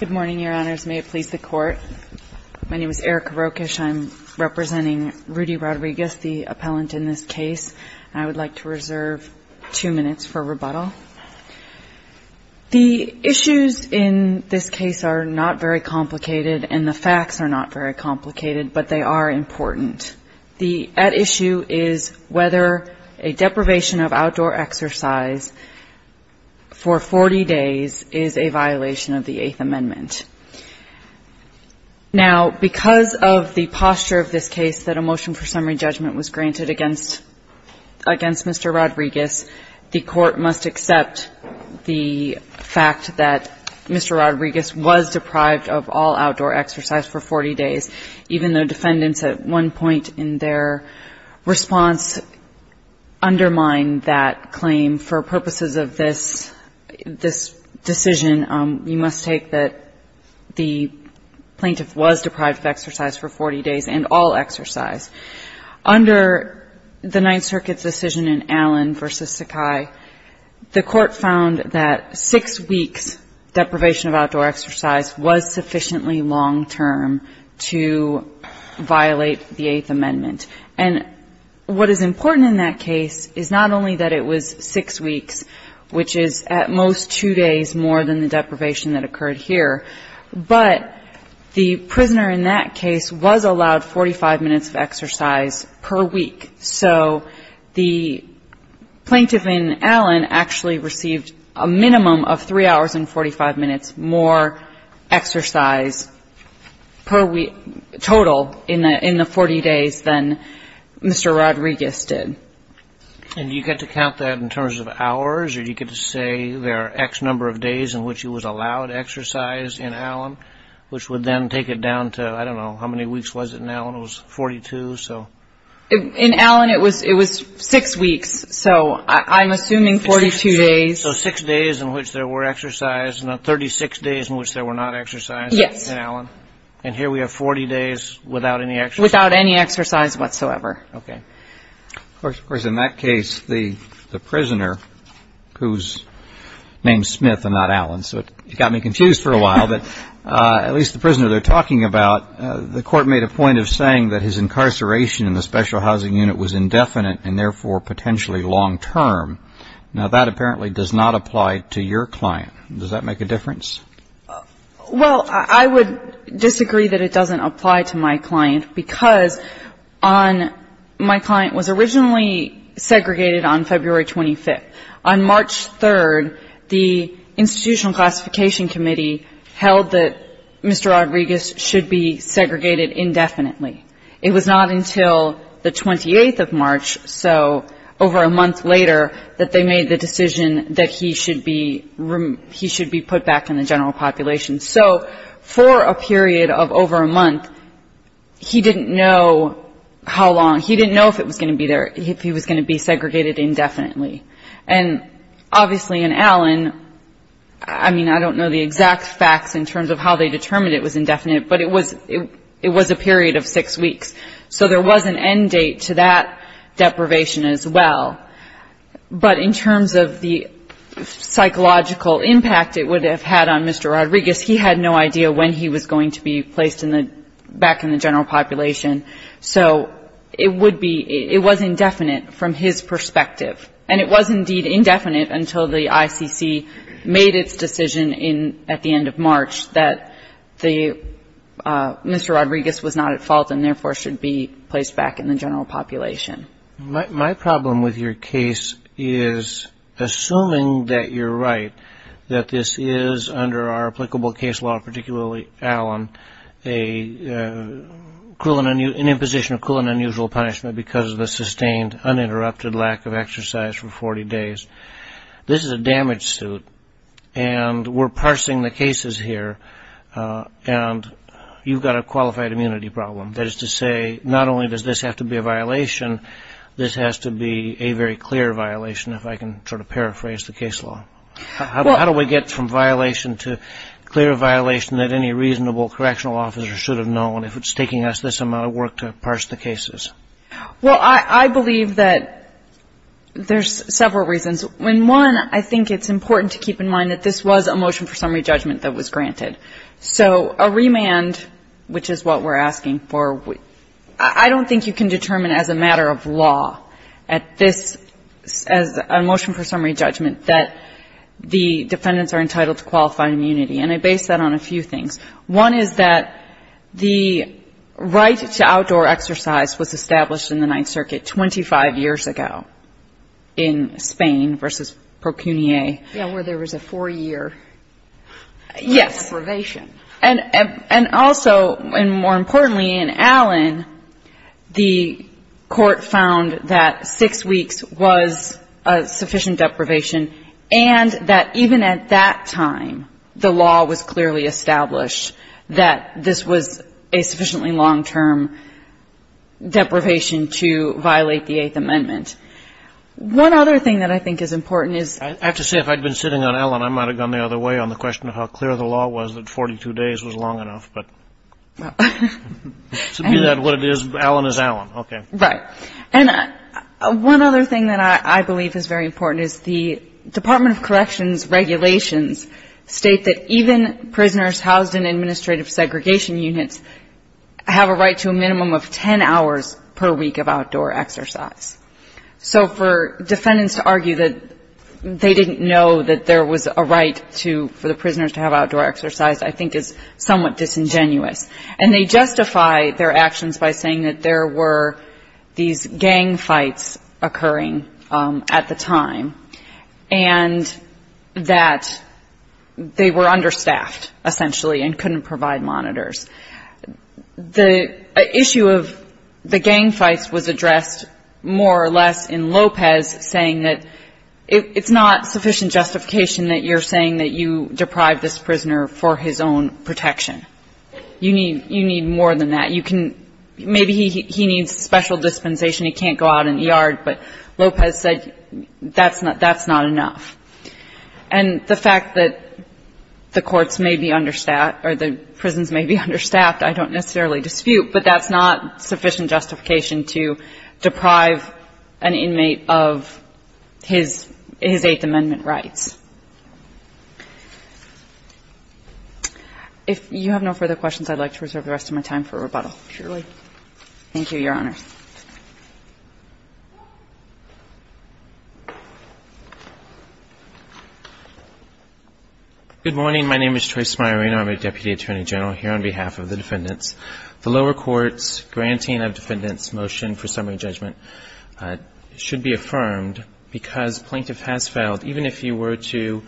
Good morning, Your Honors. May it please the Court. My name is Erica Rokish. I'm representing Rudy Rodriguez, the appellant in this case. I would like to reserve two minutes for rebuttal. The issues in this case are not very complicated, and the facts are not very complicated, but they are important. The at issue is whether a deprivation of outdoor exercise for 40 days is a violation of the Eighth Amendment. Now, because of the posture of this case that a motion for summary judgment was granted against Mr. Rodriguez, the Court must accept the fact that Mr. Rodriguez was deprived of all outdoor exercise for 40 days, even though defendants at one point in their response undermined that claim. For purposes of this decision, you must take that the plaintiff was deprived of exercise for 40 days and all exercise. Under the Ninth Circuit's decision in Allen v. Sakai, the Court found that six weeks' deprivation of outdoor exercise was sufficiently long-term to violate the Eighth Amendment. And what is important in that case is not only that it was six weeks, which is at most two days more than the deprivation that occurred here, but the prisoner in that case was allowed 45 minutes of exercise per week. So the plaintiff in Allen actually received a minimum of three hours and 45 minutes more exercise per week, total, in the 40 days than Mr. Rodriguez did. And do you get to count that in terms of hours, or do you get to say there are X number of days in which he was allowed exercise in Allen, which would then take it down to, I don't know, how many weeks was it in Allen? It was 42, so. In Allen, it was six weeks, so I'm assuming 42 days. So six days in which there were exercise and 36 days in which there were not exercise in Allen. Yes. And here we have 40 days without any exercise. Without any exercise whatsoever. Okay. Of course, in that case, the prisoner, whose name's Smith and not Allen, so it got me confused for a while, but at least the prisoner they're talking about, the court made a point of saying that his incarceration in the special housing unit was indefinite and therefore potentially long-term. Now, that apparently does not apply to your client. Does that make a difference? Well, I would disagree that it doesn't apply to my client because on my client was originally segregated on February 25th. On March 3rd, the Institutional Classification Committee held that Mr. Rodriguez should be segregated indefinitely. It was not until the 28th of March, so over a month later, that they made the decision that he should be put back in the general population. So for a period of over a month, he didn't know how long. He didn't know if he was going to be segregated indefinitely. And obviously in Allen, I mean, I don't know the exact facts in terms of how they determined it was indefinite, but it was a period of six weeks. So there was an end date to that deprivation as well. But in terms of the psychological impact it would have had on Mr. Rodriguez, he had no idea when he was going to be placed back in the general population. So it would be, it was indefinite from his perspective. And it was indeed indefinite until the ICC made its decision at the end of March that Mr. Rodriguez was not at fault and therefore should be placed back in the general population. My problem with your case is, assuming that you're right, that this is under our applicable case law, particularly Allen, an imposition of cruel and unusual punishment because of the sustained uninterrupted lack of exercise for 40 days. This is a damage suit, and we're parsing the cases here, and you've got a qualified immunity problem. That is to say, not only does this have to be a violation, this has to be a very clear violation, if I can sort of paraphrase the case law. How do we get from violation to clear violation that any reasonable correctional officer should have known if it's taking us this amount of work to parse the cases? Well, I believe that there's several reasons. One, I think it's important to keep in mind that this was a motion for summary judgment that was granted. So a remand, which is what we're asking for, I don't think you can determine as a matter of law at this, as a motion for summary judgment, that the defendants are entitled to qualified immunity. And I base that on a few things. One is that the right to outdoor exercise was established in the Ninth Circuit 25 years ago in Spain versus Procuniae. Yeah, where there was a 4-year deprivation. Yes. And also, and more importantly, in Allen, the Court found that 6 weeks was a sufficient deprivation, and that even at that time, the law was clearly established that this was a sufficiently long-term deprivation to violate the Eighth Amendment. One other thing that I think is important is that this was a long-term deprivation I've been sitting on Allen. I might have gone the other way on the question of how clear the law was that 42 days was long enough, but to be that what it is, Allen is Allen. Okay. Right. And one other thing that I believe is very important is the Department of Corrections regulations state that even prisoners housed in administrative segregation units have a right to a minimum of 10 hours per week of outdoor exercise. So for defendants to argue that they didn't know that there was a right to, for the prisoners to have outdoor exercise, I think is somewhat disingenuous. And they justify their actions by saying that there were these gang fights occurring at the time, and that they were understaffed, essentially, and couldn't provide monitors. The issue of the gang fights was addressed more or less in Lopez saying that it's not sufficient justification that you're saying that you deprived this prisoner for his own protection. You need more than that. Maybe he needs special dispensation, he can't go out in the yard, but Lopez said that's not enough. And the fact that the courts may be understaffed, or the prisons may be understaffed, I don't necessarily dispute, but that's not sufficient justification to deprive an inmate of his Eighth Amendment rights. If you have no further questions, I'd like to reserve the rest of my time for rebuttal. Surely. Thank you, Your Honor. Good morning. My name is Troy Smyre, and I'm a Deputy Attorney General here on behalf of the defendants. The lower court's granting of defendants' motion for summary judgment should be affirmed because plaintiff has failed, even if he were to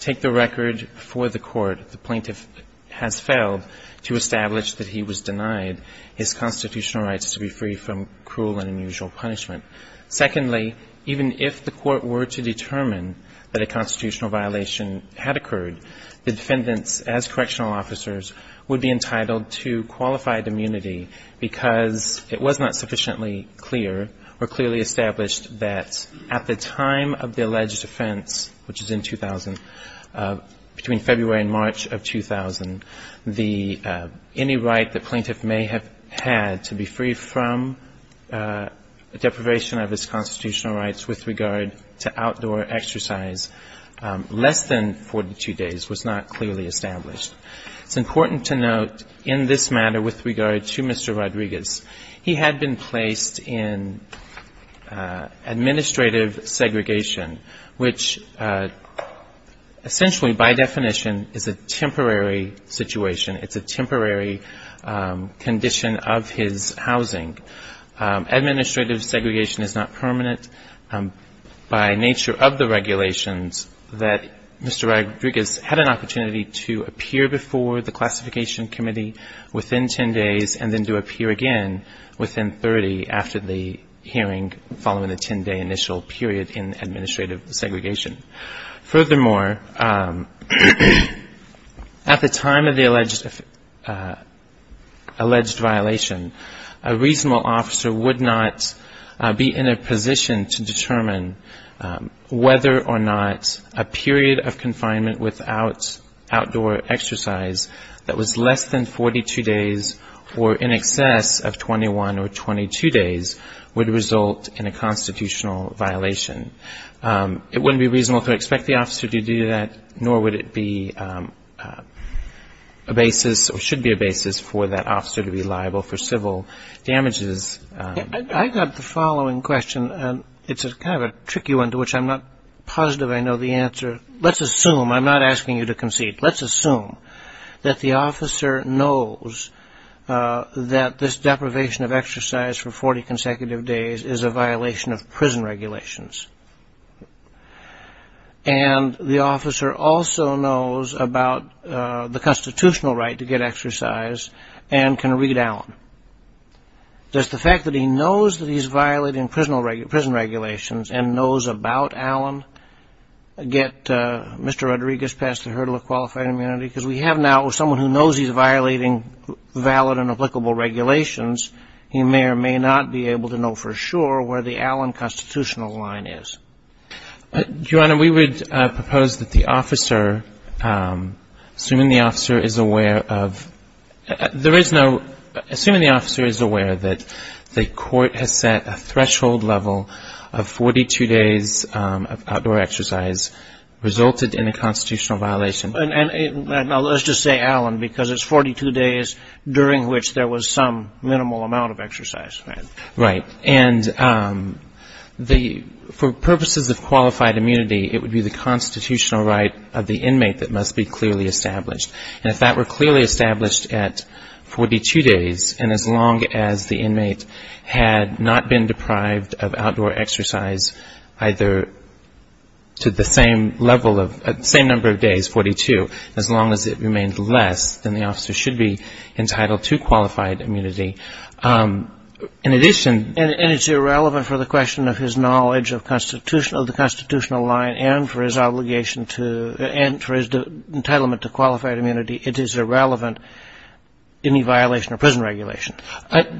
take the record for the court, the plaintiff has failed to establish that he was denied his constitutional rights to be free from cruel and unusual punishment. Secondly, even if the court were to determine that a constitutional violation had occurred, the defendants, as correctional officers, would be entitled to qualified immunity because it was not sufficiently clear or clearly established that at the time of the alleged offense, which is in 2000, between February and March of 2000, any right the plaintiff may have had to be free from deprivation of his constitutional rights with regard to outdoor exercise, less than 42 days was not clearly established. It's important to note in this matter with regard to Mr. Rodriguez, he had been placed in administrative segregation, which essentially, by definition, is a temporary situation. It's a temporary condition of his housing. Administrative segregation is not permanent. By nature of the regulations that Mr. Rodriguez had an opportunity to appear before the Classification Committee within 10 days and then to appear again within 30 after the hearing following the 10-day initial period in administrative segregation. Furthermore, at the time of the alleged violation, a reasonable officer would not be in a position to determine whether or not a period of 21 or 22 days would result in a constitutional violation. It wouldn't be reasonable to expect the officer to do that, nor would it be a basis, or should be a basis for that officer to be liable for civil damages. I've got the following question, and it's kind of a tricky one to which I'm not positive I know the answer. Let's assume, I'm not asking you to concede, let's assume that the officer knows that this deprivation of exercise for 40 consecutive days is a violation of prison regulations, and the officer also knows about the constitutional right to get exercise and can read Allen. Does the fact that he knows that he's violating prison regulations and knows about Allen get Mr. Rodriguez past the hurdle of qualified immunity? Because we have now someone who knows he's violating valid and applicable regulations. He may or may not be able to know for sure where the Allen constitutional line is. Your Honor, we would propose that the officer, assuming the officer is aware of, there is no, assuming the officer is aware that the court has set a threshold level of 42 days of outdoor exercise resulted in a constitutional violation. And let's just say Allen, because it's 42 days during which there was some minimal amount of exercise. Right. And for purposes of qualified immunity, it would be the constitutional right of the inmate that must be clearly established. And if that were clearly established at 42 days, and as long as the inmate had not been deprived of outdoor exercise either to the same level of, same number of days, 42, as long as it remained less than the officer should be entitled to qualified immunity, it would be a violation of the constitutional right of the inmate to be entitled to qualified immunity. In addition. And it's irrelevant for the question of his knowledge of the constitutional line and for his obligation to, and for his entitlement to qualified immunity, it is irrelevant any violation of prison regulation.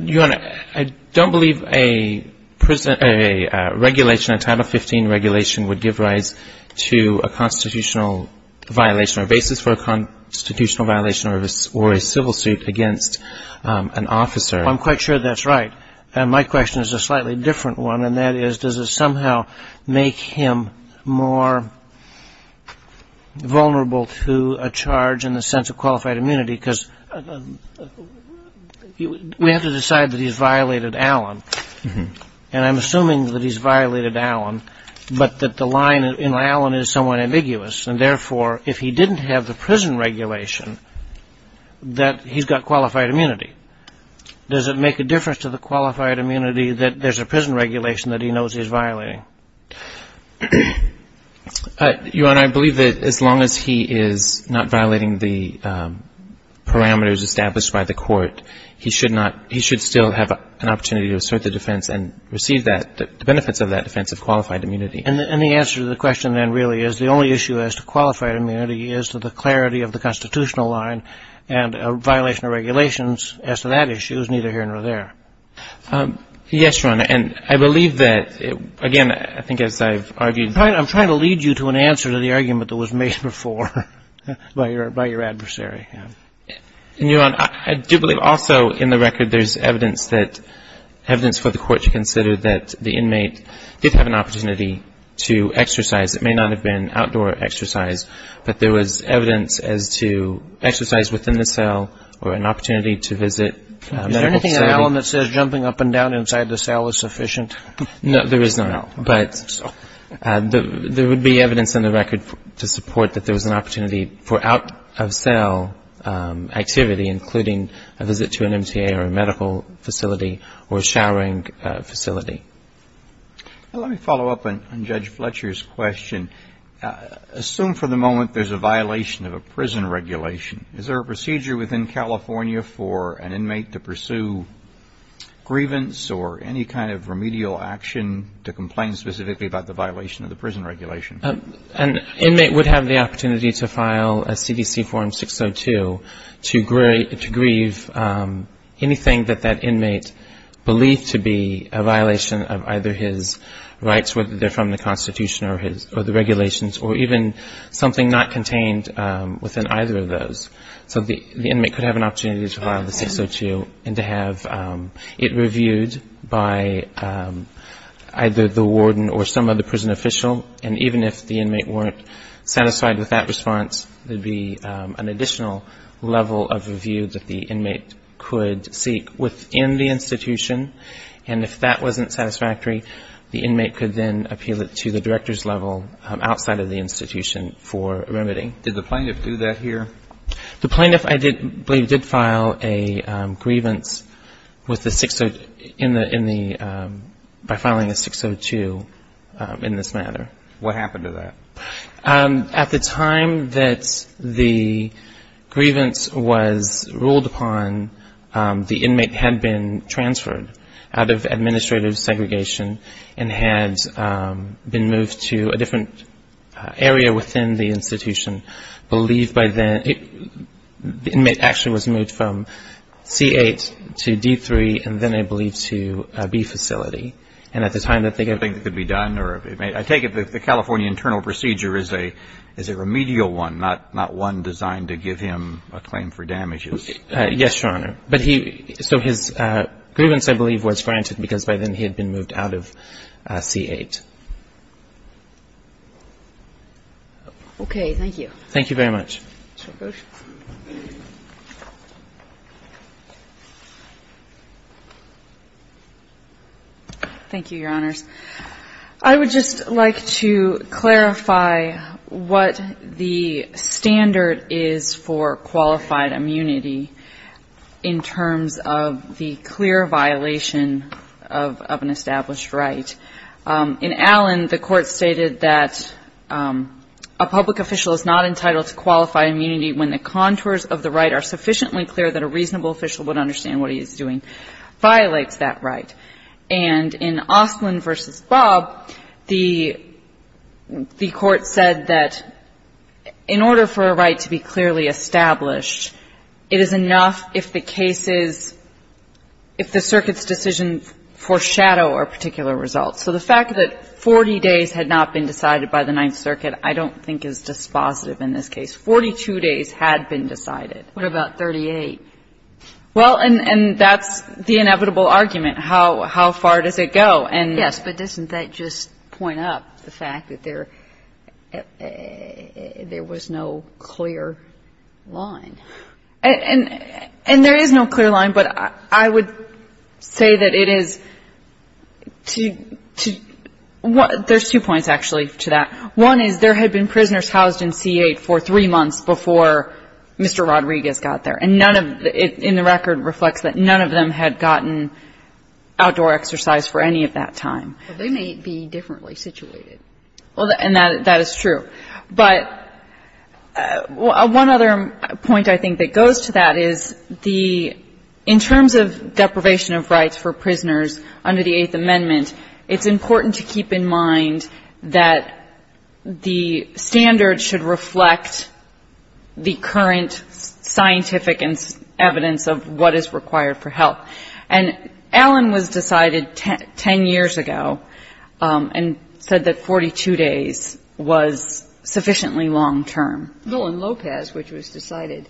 Your Honor, I don't believe a prison, a regulation, a Title 15 regulation would give rise to a constitutional violation or basis for a constitutional violation or a civil suit against an officer. I'm quite sure that's right. And my question is a slightly different one, and that is, does it somehow make him more vulnerable to a charge in the sense of qualified immunity, because we have to decide that he's violated Allen. And I'm assuming that he's violated Allen, but that the line in Allen is somewhat ambiguous. And therefore, if he didn't have the prison regulation, that he's got qualified immunity. Does it make a difference to the qualified immunity that there's a prison regulation that he knows he's violating? Your Honor, I believe that as long as he is not violating the parameters established by the court, he should not, he should still have an opportunity to assert the defense and receive that, the benefits of that defense of qualified immunity. And the answer to the question then really is the only issue as to qualified immunity is to the clarity of the constitutional line, and a violation of regulations as to that issue is neither here nor there. Yes, Your Honor. And I believe that, again, I think as I've argued. I'm trying to lead you to an answer to the argument that was made before by your adversary. Your Honor, I do believe also in the record there's evidence that, evidence for the court to consider that the inmate did have an opportunity to exercise. It may not have been outdoor exercise, but there was evidence as to exercise within the cell or an opportunity to visit medical facility. Is there anything in Allen that says jumping up and down inside the cell is sufficient? No, there is not, but there would be evidence in the record to support that there was an opportunity for out-of-cell activity, including a visit to an MTA or a medical facility or a showering facility. Let me follow up on Judge Fletcher's question. Assume for the moment there's a violation of a prison regulation. Is there a procedure within California for an inmate to pursue grievance or any kind of remedial action to complain specifically about the violation of the prison regulation? An inmate would have the opportunity to file a CDC form 602 to grieve anything that that inmate believed to be a violation of either his rights, whether they're from the Constitution or the regulations or even something not contained within either of those. So the inmate could have an opportunity to file the 602 and to have it reviewed by either the warden or some other prison official, and even if the inmate weren't satisfied with that response, there would be an additional level of review that the inmate could seek within the institution and then appeal it to the director's level outside of the institution for remedy. Did the plaintiff do that here? The plaintiff, I believe, did file a grievance by filing a 602 in this manner. What happened to that? At the time that the grievance was ruled upon, the inmate had been transferred out of administrative segregation and had been moved to a different area within the institution. The inmate actually was moved from C8 to D3 and then, I believe, to B facility. And at the time that they get it. I think it could be done. I take the California internal procedure as a remedial one, not one designed to give him a claim for damages. Yes, Your Honor. So his grievance, I believe, was granted because by then he had been moved out of C8. Thank you. Thank you very much. Ms. Rogosh. Thank you, Your Honors. I would just like to clarify what the standard is for qualified immunity in terms of the clear violation of an established right. In Allen, the court stated that a public official is not entitled to qualify immunity when the contours of the right are sufficiently clear that a reasonable official would understand what he is doing violates that right. And in Oslin v. Bob, the court said that in order for a right to be clearly established, it is enough if the cases, if the circuit's decision foreshadow a particular result. So the fact that 40 days had not been decided by the Ninth Circuit I don't think is dispositive in this case. 42 days had been decided. What about 38? Well, and that's the inevitable argument. How far does it go? Yes, but doesn't that just point up the fact that there was no clear line? And there is no clear line, but I would say that it is to – there's two points, actually, to that. One is there had been prisoners housed in C-8 for three months before Mr. Rodriguez got there. And none of the – and the record reflects that none of them had gotten outdoor exercise for any of that time. Well, they may be differently situated. Well, and that is true. But one other point, I think, that goes to that is the – in terms of deprivation of rights for prisoners under the Eighth Amendment, it's important to keep in mind that the standard should reflect the current scientific evidence of what is required for help. And Allen was decided 10 years ago and said that 42 days was sufficiently long-term. Well, in Lopez, which was decided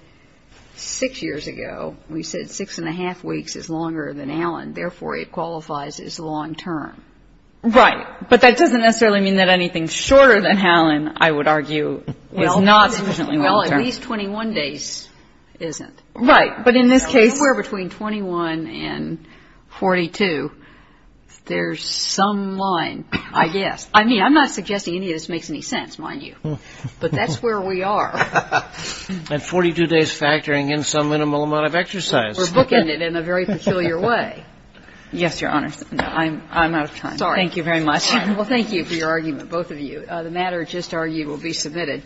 six years ago, we said six and a half weeks is longer than Allen. Therefore, it qualifies as long-term. Right. But that doesn't necessarily mean that anything shorter than Allen, I would argue, is not sufficiently long-term. Well, at least 21 days isn't. Right. But in this case – Somewhere between 21 and 42, there's some line, I guess. I mean, I'm not suggesting any of this makes any sense, mind you. But that's where we are. And 42 days factoring in some minimal amount of exercise. We're booking it in a very peculiar way. Yes, Your Honor. I'm out of time. Sorry. Thank you very much. Well, thank you for your argument, both of you. The matter just argued will be submitted.